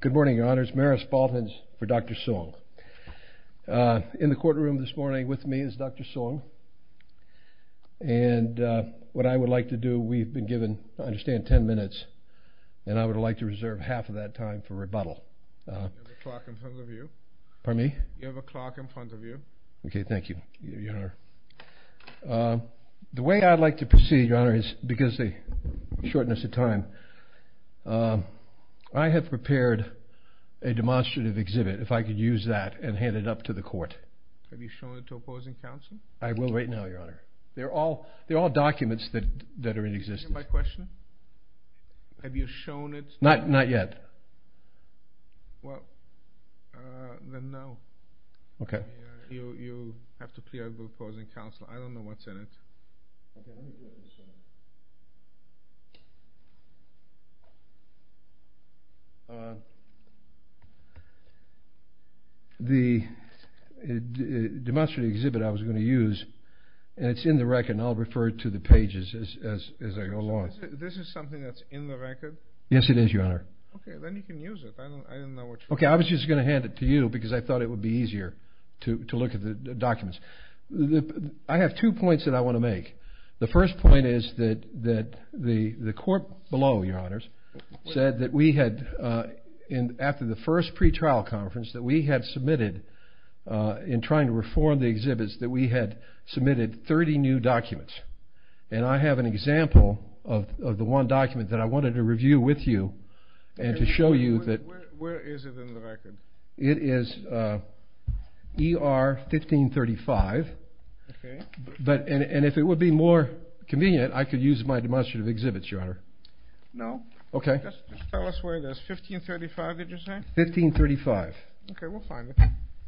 Good morning, Your Honor. It's Maris Fultons for Dr. Sung. In the courtroom this morning with me is Dr. Sung, and what I would like to do, we've been given, I understand, ten minutes, and I would like to reserve half of that time for rebuttal. You have a clock in front of you. Pardon me? You have a clock in front of you. Okay, thank you, Your Honor. The way I'd like to proceed, Your Honor, is because of the shortness of time, I have prepared a demonstrative exhibit. If I could use that and hand it up to the court. Have you shown it to opposing counsel? I will right now, Your Honor. They're all documents that are in existence. Do you hear my question? Have you shown it? Not yet. Well, then no. Okay. You have to clear it with opposing counsel. I don't know what's in it. Okay, let me get this. The demonstrative exhibit I was going to use, and it's in the record, and I'll refer to the pages as I go along. This is something that's in the record? Yes, it is, Your Honor. Okay, then you can use it. I don't know what you're talking about. Okay, I was just going to hand it to you because I thought it would be easier to look at the documents. I have two points that I want to make. The first point is that the court below, Your Honors, said that we had, after the first pretrial conference, that we had submitted in trying to reform the exhibits, that we had submitted 30 new documents. And I have an example of the one document that I wanted to review with you and to show you that. Where is it in the record? It is ER 1535. Okay. And if it would be more convenient, I could use my demonstrative exhibit, Your Honor. No. Okay. Just tell us where it is. 1535, did you say? 1535. Okay, we'll find it.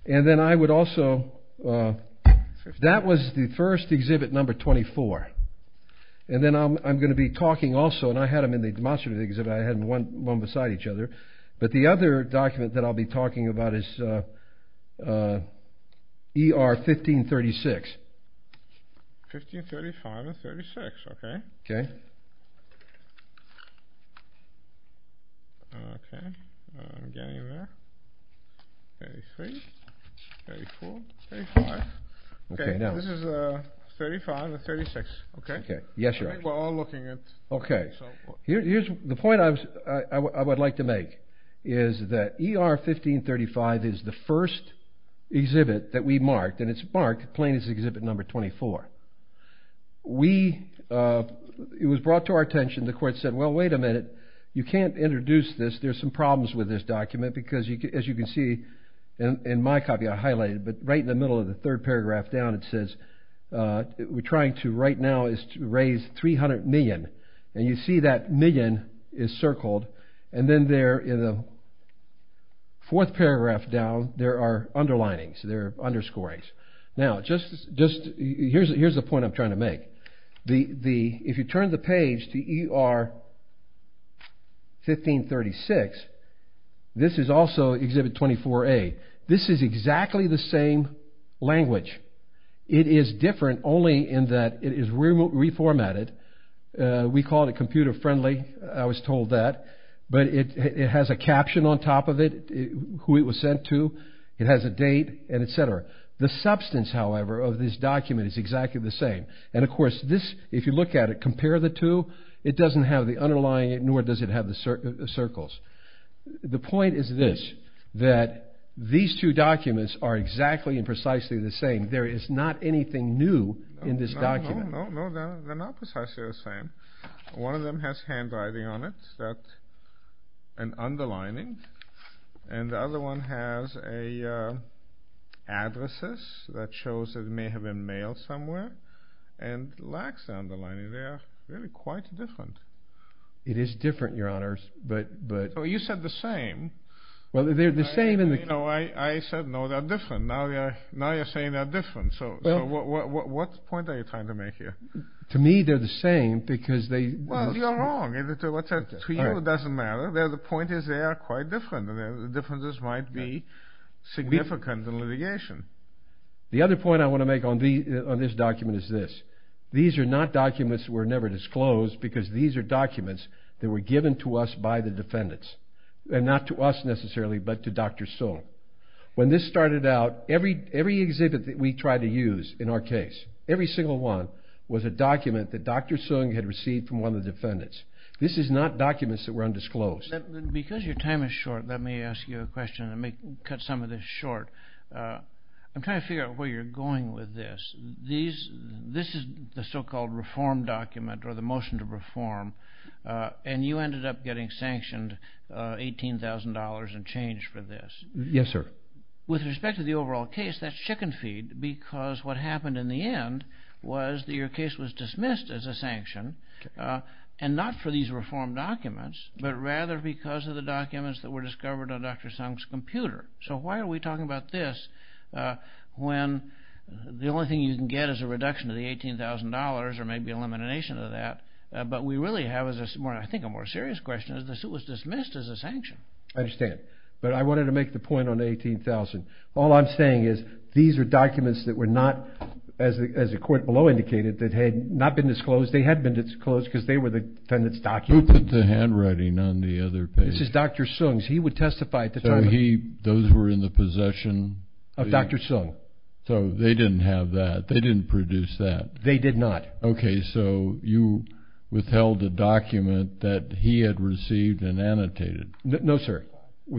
And then I would also, that was the first exhibit, number 24. And then I'm going to be talking also, and I had them in the demonstrative exhibit. I had them one beside each other. But the other document that I'll be talking about is ER 1536. 1535 and 36, okay. Okay. I'm getting there. 33, 34, 35. Okay, this is 35 and 36, okay? Yes, Your Honor. I think we're all looking at. Okay. The point I would like to make is that ER 1535 is the first exhibit that we marked, and it's marked plain as exhibit number 24. It was brought to our attention, the court said, well, wait a minute. You can't introduce this. There's some problems with this document because, as you can see in my copy I highlighted, but right in the middle of the third paragraph down it says, we're trying to right now raise 300 million. And you see that million is circled, and then there in the fourth paragraph down there are underlinings. There are underscores. Now, just, here's the point I'm trying to make. If you turn the page to ER 1536, this is also exhibit 24A. This is exactly the same language. It is different only in that it is reformatted. We call it computer friendly. I was told that. But it has a caption on top of it, who it was sent to. It has a date and et cetera. The substance, however, of this document is exactly the same. And, of course, this, if you look at it, compare the two, it doesn't have the underlying, nor does it have the circles. The point is this, that these two documents are exactly and precisely the same. There is not anything new in this document. No, no, no. They're not precisely the same. One of them has handwriting on it, an underlining, and the other one has addresses that shows it may have been mailed somewhere, and lacks the underlining there. Really quite different. It is different, Your Honors. You said the same. Well, they're the same. I said, no, they're different. Now you're saying they're different. So what point are you trying to make here? To me, they're the same because they Well, you're wrong. To you, it doesn't matter. The point is they are quite different, and the differences might be significant in litigation. The other point I want to make on this document is this. These are not documents that were never disclosed because these are documents that were given to us by the defendants, and not to us necessarily, but to Dr. Sung. When this started out, every exhibit that we tried to use in our case, every single one was a document that Dr. Sung had received from one of the defendants. This is not documents that were undisclosed. Because your time is short, let me ask you a question. Let me cut some of this short. I'm trying to figure out where you're going with this. This is the so-called reform document or the motion to reform, and you ended up getting sanctioned $18,000 in change for this. Yes, sir. With respect to the overall case, that's chicken feed because what happened in the end was that your case was dismissed as a sanction, and not for these reform documents, but rather because of the documents that were discovered on Dr. Sung's computer. So why are we talking about this when the only thing you can get is a reduction to the $18,000 or maybe elimination of that, but we really have, I think, a more serious question. It was dismissed as a sanction. I understand, but I wanted to make the point on the $18,000. All I'm saying is these are documents that were not, as the court below indicated, that had not been disclosed. They had been disclosed because they were the defendant's documents. Who put the handwriting on the other page? This is Dr. Sung's. He would testify at the time. So those were in the possession? Of Dr. Sung. So they didn't have that. They didn't produce that. They did not. Okay. So you withheld a document that he had received and annotated. No, sir.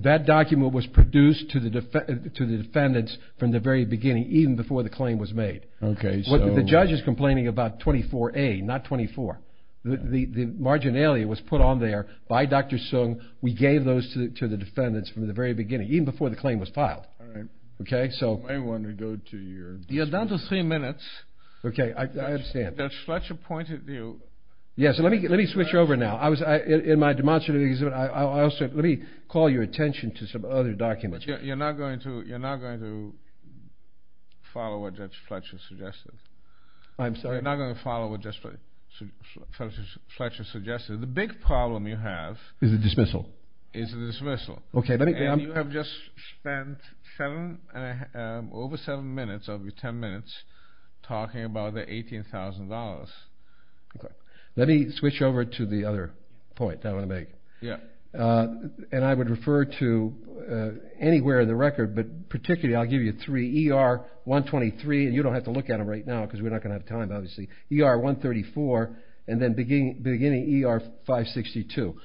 That document was produced to the defendants from the very beginning, even before the claim was made. Okay. The judge is complaining about 24A, not 24. The marginalia was put on there by Dr. Sung. We gave those to the defendants from the very beginning, even before the claim was filed. Okay. You're down to three minutes. Okay. I understand. Judge Fletcher pointed you. Yes. Let me switch over now. In my demonstrative, let me call your attention to some other documents. You're not going to follow what Judge Fletcher suggested. I'm sorry? You're not going to follow what Judge Fletcher suggested. The big problem you have is a dismissal. Is a dismissal. Okay. And you have just spent seven and a half, over seven minutes, over ten minutes talking about the $18,000. Okay. Let me switch over to the other point that I want to make. Yeah. And I would refer to anywhere in the record, but particularly, I'll give you three, ER-123, and you don't have to look at them right now because we're not going to have time, obviously, ER-134, and then beginning ER-562.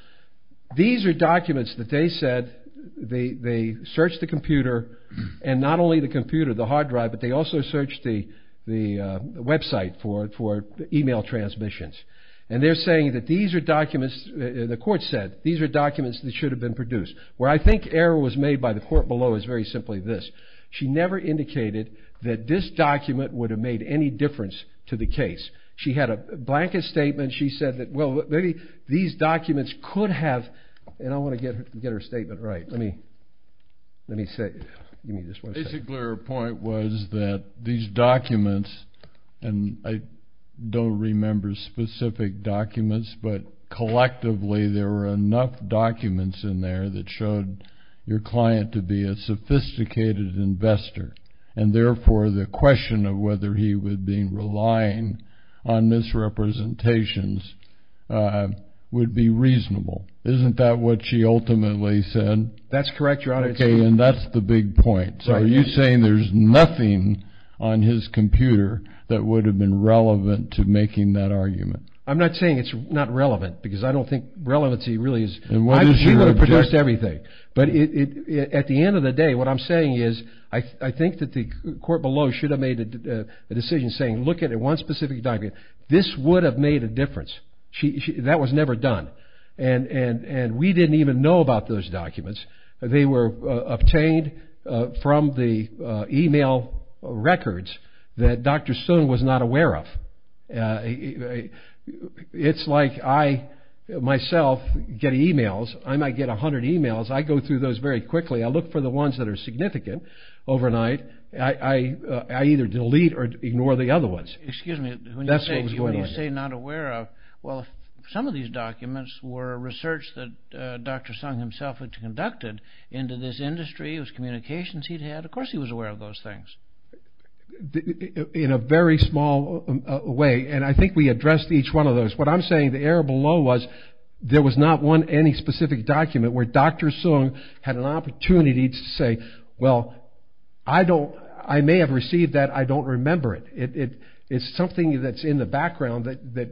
These are documents that they said they searched the computer, and not only the computer, the hard drive, but they also searched the website for email transmissions. And they're saying that these are documents, the court said, these are documents that should have been produced. Where I think error was made by the court below is very simply this. She never indicated that this document would have made any difference to the case. She had a blanket statement. She said that, well, maybe these documents could have, and I want to get her statement right. Let me say it. Basically, her point was that these documents, and I don't remember specific documents, but collectively there were enough documents in there that showed your client to be a sophisticated investor, and therefore the question of whether he would be relying on misrepresentations would be reasonable. Isn't that what she ultimately said? That's correct, Your Honor. Okay, and that's the big point. So are you saying there's nothing on his computer that would have been relevant to making that argument? I'm not saying it's not relevant because I don't think relevancy really is. She would have produced everything. At the end of the day, what I'm saying is I think that the court below should have made a decision saying look at one specific document. This would have made a difference. That was never done, and we didn't even know about those documents. They were obtained from the e-mail records that Dr. Stone was not aware of. It's like I myself get e-mails. I might get 100 e-mails. I go through those very quickly. I look for the ones that are significant overnight. I either delete or ignore the other ones. Excuse me. When you say not aware of, well, some of these documents were research that Dr. Sung himself had conducted into this industry. It was communications he'd had. Of course he was aware of those things. In a very small way, and I think we addressed each one of those. What I'm saying, the error below was there was not one any specific document where Dr. Sung had an opportunity to say, well, I may have received that. I don't remember it. It's something that's in the background that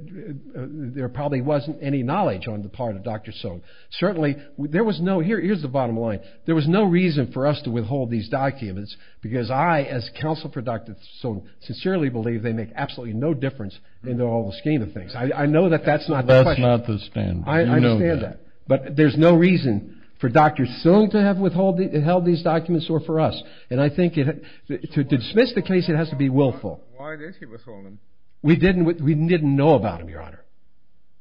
there probably wasn't any knowledge on the part of Dr. Sung. Certainly there was no, here's the bottom line. There was no reason for us to withhold these documents because I, as counsel for Dr. Sung, sincerely believe they make absolutely no difference in the whole scheme of things. I know that that's not the question. That's not the standard. You know that. I understand that. But there's no reason for Dr. Sung to have withheld these documents or for us. And I think to dismiss the case, it has to be willful. Why did he withhold them? We didn't know about them, Your Honor.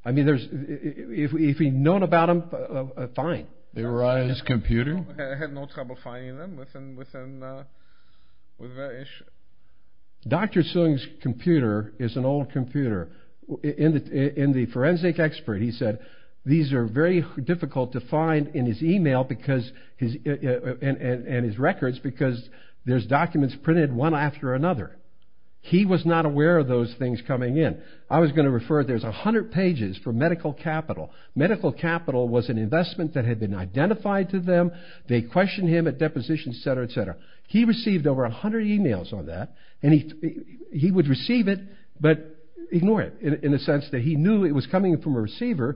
I mean, if we'd known about them, fine. They were on his computer? I had no trouble finding them within the issue. Dr. Sung's computer is an old computer. In the forensic expert, he said, these are very difficult to find in his e-mail and his records because there's documents printed one after another. He was not aware of those things coming in. I was going to refer, there's 100 pages for medical capital. Medical capital was an investment that had been identified to them. They questioned him at depositions, et cetera, et cetera. He received over 100 e-mails on that. And he would receive it but ignore it in the sense that he knew it was coming from a receiver.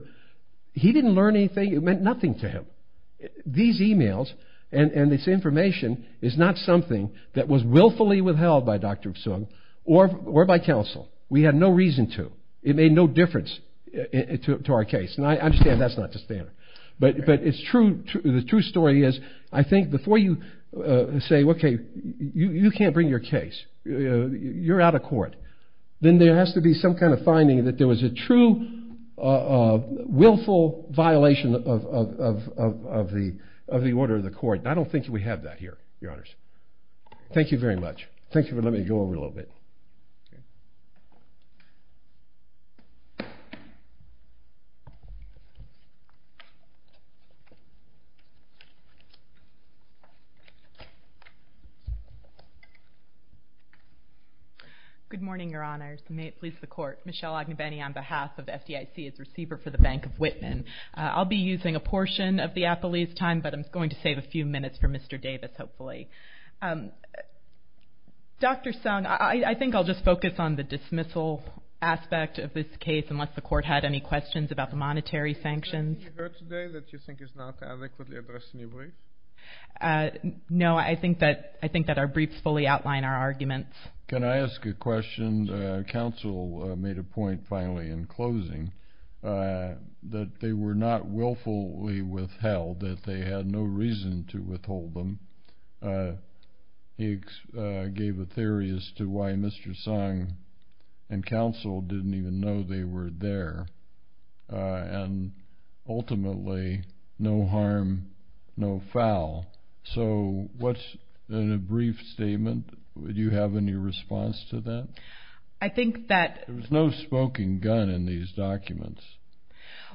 He didn't learn anything. It meant nothing to him. These e-mails and this information is not something that was willfully withheld by Dr. Sung or by counsel. We had no reason to. It made no difference to our case. And I understand that's not the standard. But it's true. The true story is I think before you say, okay, you can't bring your case, you're out of court, then there has to be some kind of finding that there was a true willful violation of the order of the court. I don't think we have that here, Your Honors. Thank you very much. Thank you. Let me go over a little bit. Good morning, Your Honors. May it please the Court. Michelle Agnew-Benny on behalf of FDIC as receiver for the Bank of Whitman. I'll be using a portion of the appellee's time, but I'm going to save a few minutes for Mr. Davis, hopefully. Dr. Sung, I think I'll just focus on the dismissal aspect of this case, unless the Court had any questions about the monetary sanctions. Is there anything you heard today that you think is not adequately addressed in your brief? No, I think that our briefs fully outline our arguments. Can I ask a question? When counsel made a point, finally, in closing, that they were not willfully withheld, that they had no reason to withhold them, he gave a theory as to why Mr. Sung and counsel didn't even know they were there, and ultimately, no harm, no foul. So what's in a brief statement? Do you have any response to that? There was no smoking gun in these documents.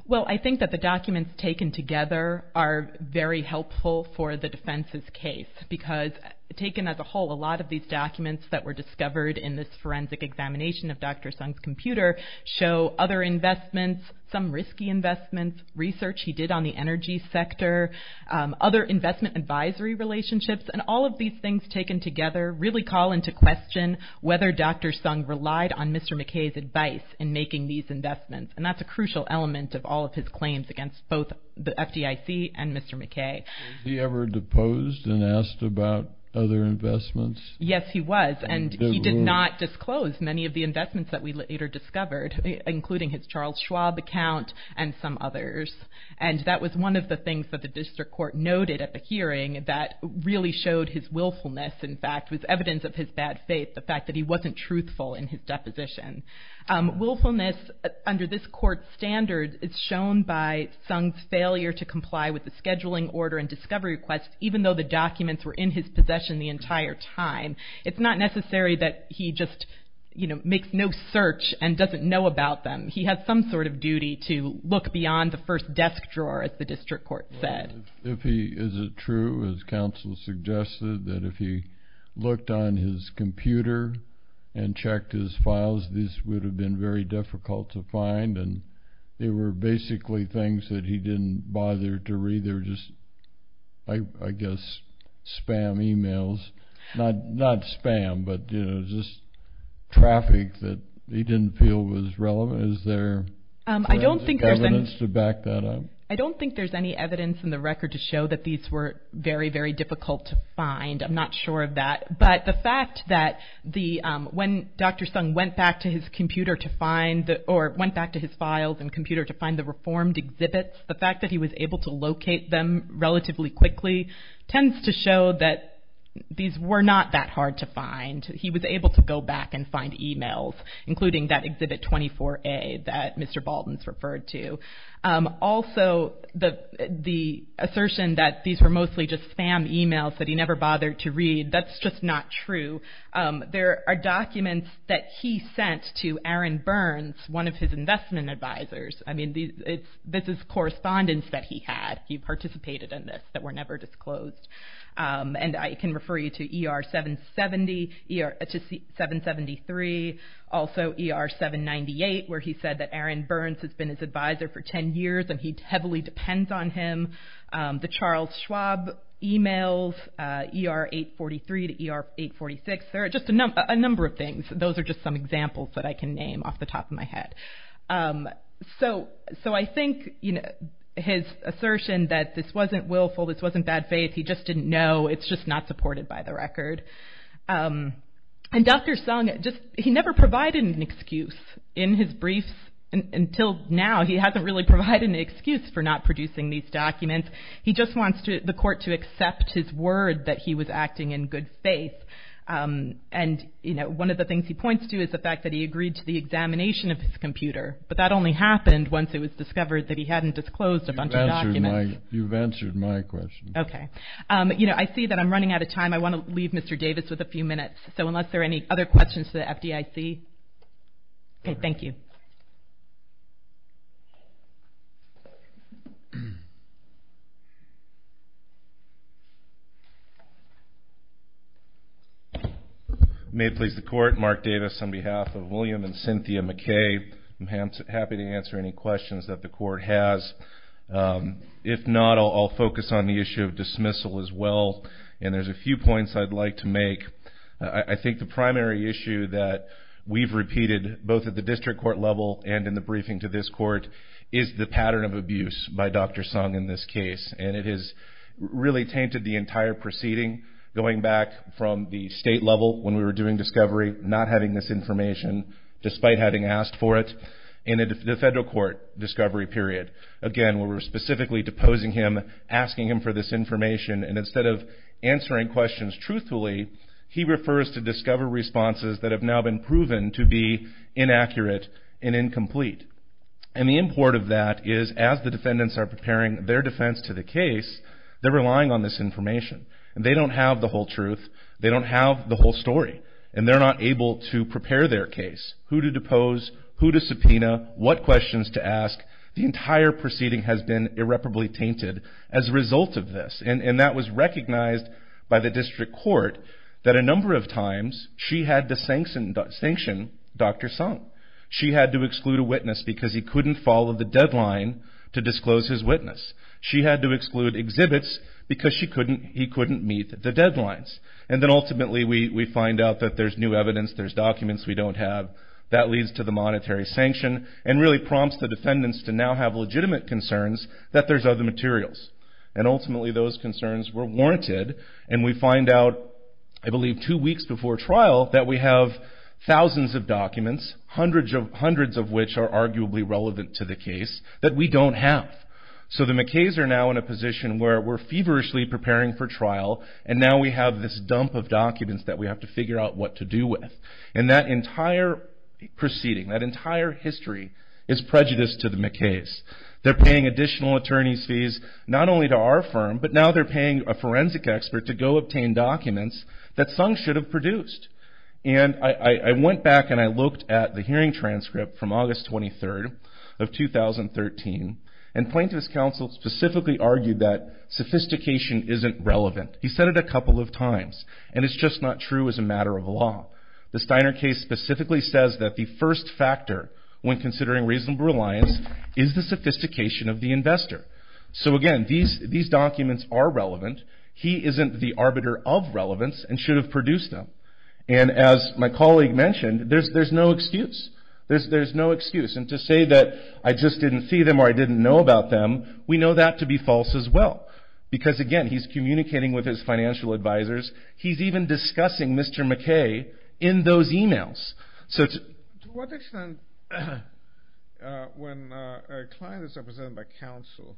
Well, I think that the documents taken together are very helpful for the defense's case because taken as a whole, a lot of these documents that were discovered in this forensic examination of Dr. Sung's computer show other investments, some risky investments, research he did on the energy sector, other investment advisory relationships, and all of these things taken together really call into question whether Dr. Sung relied on Mr. McKay's advice in making these investments, and that's a crucial element of all of his claims against both the FDIC and Mr. McKay. Was he ever deposed and asked about other investments? Yes, he was, and he did not disclose many of the investments that we later discovered, including his Charles Schwab account and some others, and that was one of the things that the district court noted at the hearing that really showed his willfulness, in fact, was evidence of his bad faith, the fact that he wasn't truthful in his deposition. Willfulness under this court standard is shown by Sung's failure to comply with the scheduling order and discovery request, even though the documents were in his possession the entire time. It's not necessary that he just, you know, makes no search and doesn't know about them. He has some sort of duty to look beyond the first desk drawer, as the district court said. If he is true, as counsel suggested, that if he looked on his computer and checked his files, this would have been very difficult to find, and they were basically things that he didn't bother to read. They were just, I guess, spam emails. Not spam, but, you know, just traffic that he didn't feel was relevant. Is there evidence to back that up? I don't think there's any evidence in the record to show that these were very, very difficult to find. I'm not sure of that, but the fact that when Dr. Sung went back to his computer to find, or went back to his files and computer to find the reformed exhibits, the fact that he was able to locate them relatively quickly tends to show that these were not that hard to find. He was able to go back and find emails, including that Exhibit 24A that Mr. Baldins referred to. Also, the assertion that these were mostly just spam emails that he never bothered to read, that's just not true. There are documents that he sent to Aaron Burns, one of his investment advisors. I mean, this is correspondence that he had. He participated in this that were never disclosed. And I can refer you to ER-773, also ER-798, where he said that Aaron Burns has been his advisor for 10 years, and he heavily depends on him. The Charles Schwab emails, ER-843 to ER-846, there are just a number of things. Those are just some examples that I can name off the top of my head. So I think his assertion that this wasn't willful, this wasn't bad faith, he just didn't know, it's just not supported by the record. And Dr. Sung, he never provided an excuse in his briefs until now. He hasn't really provided an excuse for not producing these documents. He just wants the court to accept his word that he was acting in good faith. And, you know, one of the things he points to is the fact that he agreed to the examination of his computer. But that only happened once it was discovered that he hadn't disclosed a bunch of documents. You've answered my question. Okay. You know, I see that I'm running out of time. I want to leave Mr. Davis with a few minutes. So unless there are any other questions for the FDIC. Okay, thank you. May it please the court, Mark Davis on behalf of William and Cynthia McKay. I'm happy to answer any questions that the court has. If not, I'll focus on the issue of dismissal as well. And there's a few points I'd like to make. I think the primary issue that we've repeated, both at the district court level and in the briefing to this court, is the pattern of abuse by Dr. Sung in this case. And it has really tainted the entire proceeding going back from the state level when we were doing discovery, not having this information despite having asked for it in the federal court discovery period. Again, where we were specifically deposing him, asking him for this information. And instead of answering questions truthfully, he refers to discovery responses that have now been proven to be inaccurate and incomplete. And the import of that is as the defendants are preparing their defense to the case, they're relying on this information. And they don't have the whole truth. They don't have the whole story. And they're not able to prepare their case. Who to depose, who to subpoena, what questions to ask. The entire proceeding has been irreparably tainted as a result of this. And that was recognized by the district court that a number of times she had to sanction Dr. Sung. She had to exclude a witness because he couldn't follow the deadline to disclose his witness. She had to exclude exhibits because he couldn't meet the deadlines. And then ultimately we find out that there's new evidence, there's documents we don't have. That leads to the monetary sanction and really prompts the defendants to now have legitimate concerns that there's other materials. And ultimately those concerns were warranted. And we find out, I believe two weeks before trial, that we have thousands of documents, hundreds of which are arguably relevant to the case, that we don't have. So the McKays are now in a position where we're feverishly preparing for trial and now we have this dump of documents that we have to figure out what to do with. And that entire proceeding, that entire history, is prejudice to the McKays. They're paying additional attorney's fees not only to our firm, but now they're paying a forensic expert to go obtain documents that Sung should have produced. And I went back and I looked at the hearing transcript from August 23rd of 2013 and plaintiff's counsel specifically argued that sophistication isn't relevant. He said it a couple of times. And it's just not true as a matter of law. The Steiner case specifically says that the first factor when considering reasonable reliance is the sophistication of the investor. So again, these documents are relevant. He isn't the arbiter of relevance and should have produced them. And as my colleague mentioned, there's no excuse. There's no excuse. And to say that I just didn't see them or I didn't know about them, we know that to be false as well. Because again, he's communicating with his financial advisors. He's even discussing Mr. McKay in those emails. To what extent when a client is represented by counsel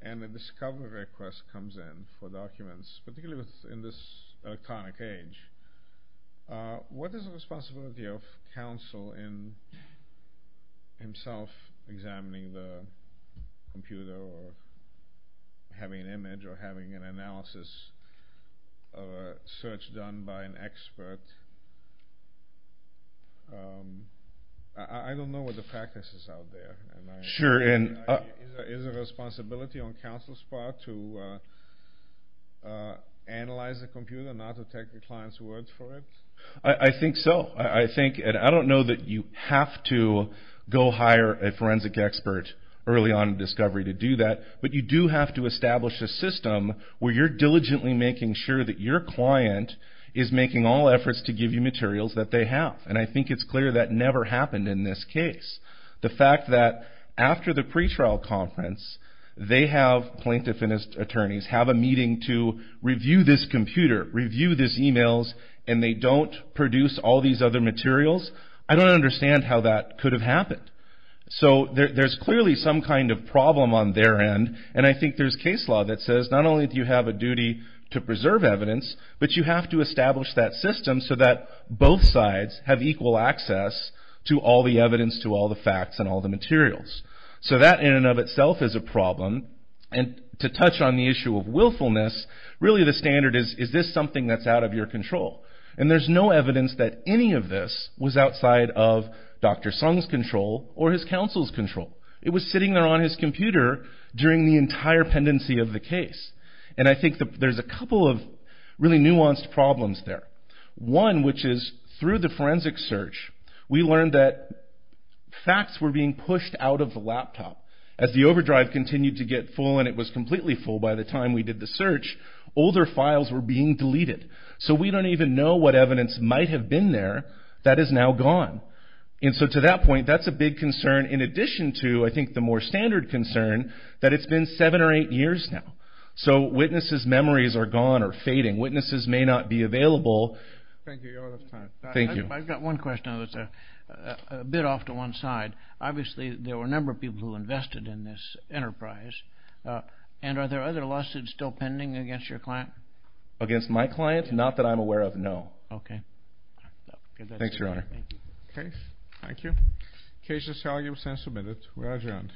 and a discovery request comes in for documents, particularly in this electronic age, what is the responsibility of counsel in himself examining the computer or having an image or having an analysis of a search done by an expert? I don't know what the practice is out there. Sure. Is it a responsibility on counsel's part to analyze the computer, not to take the client's words for it? I think so. I think and I don't know that you have to go hire a forensic expert early on in discovery to do that. But you do have to establish a system where you're diligently making sure that your client is making all efforts to give you materials that they have. And I think it's clear that never happened in this case. The fact that after the pretrial conference, they have plaintiff and attorneys have a meeting to review this computer, review these emails, and they don't produce all these other materials, I don't understand how that could have happened. So there's clearly some kind of problem on their end. And I think there's case law that says not only do you have a duty to preserve evidence, but you have to establish that system so that both sides have equal access to all the evidence, to all the facts, and all the materials. So that in and of itself is a problem. And to touch on the issue of willfulness, really the standard is, is this something that's out of your control? And there's no evidence that any of this was outside of Dr. Sung's control or his counsel's control. It was sitting there on his computer during the entire pendency of the case. And I think there's a couple of really nuanced problems there. One, which is through the forensic search, we learned that facts were being pushed out of the laptop. As the overdrive continued to get full and it was completely full by the time we did the search, older files were being deleted. So we don't even know what evidence might have been there that is now gone. And so to that point, that's a big concern in addition to, I think, the more standard concern, that it's been seven or eight years now. So witnesses' memories are gone or fading. Witnesses may not be available. Thank you. I've got one question that's a bit off to one side. Obviously, there were a number of people who invested in this enterprise. And are there other lawsuits still pending against your client? Against my client? Not that I'm aware of, no. Okay. Thanks, Your Honor. Okay. Thank you. The case is salient and submitted. We are adjourned.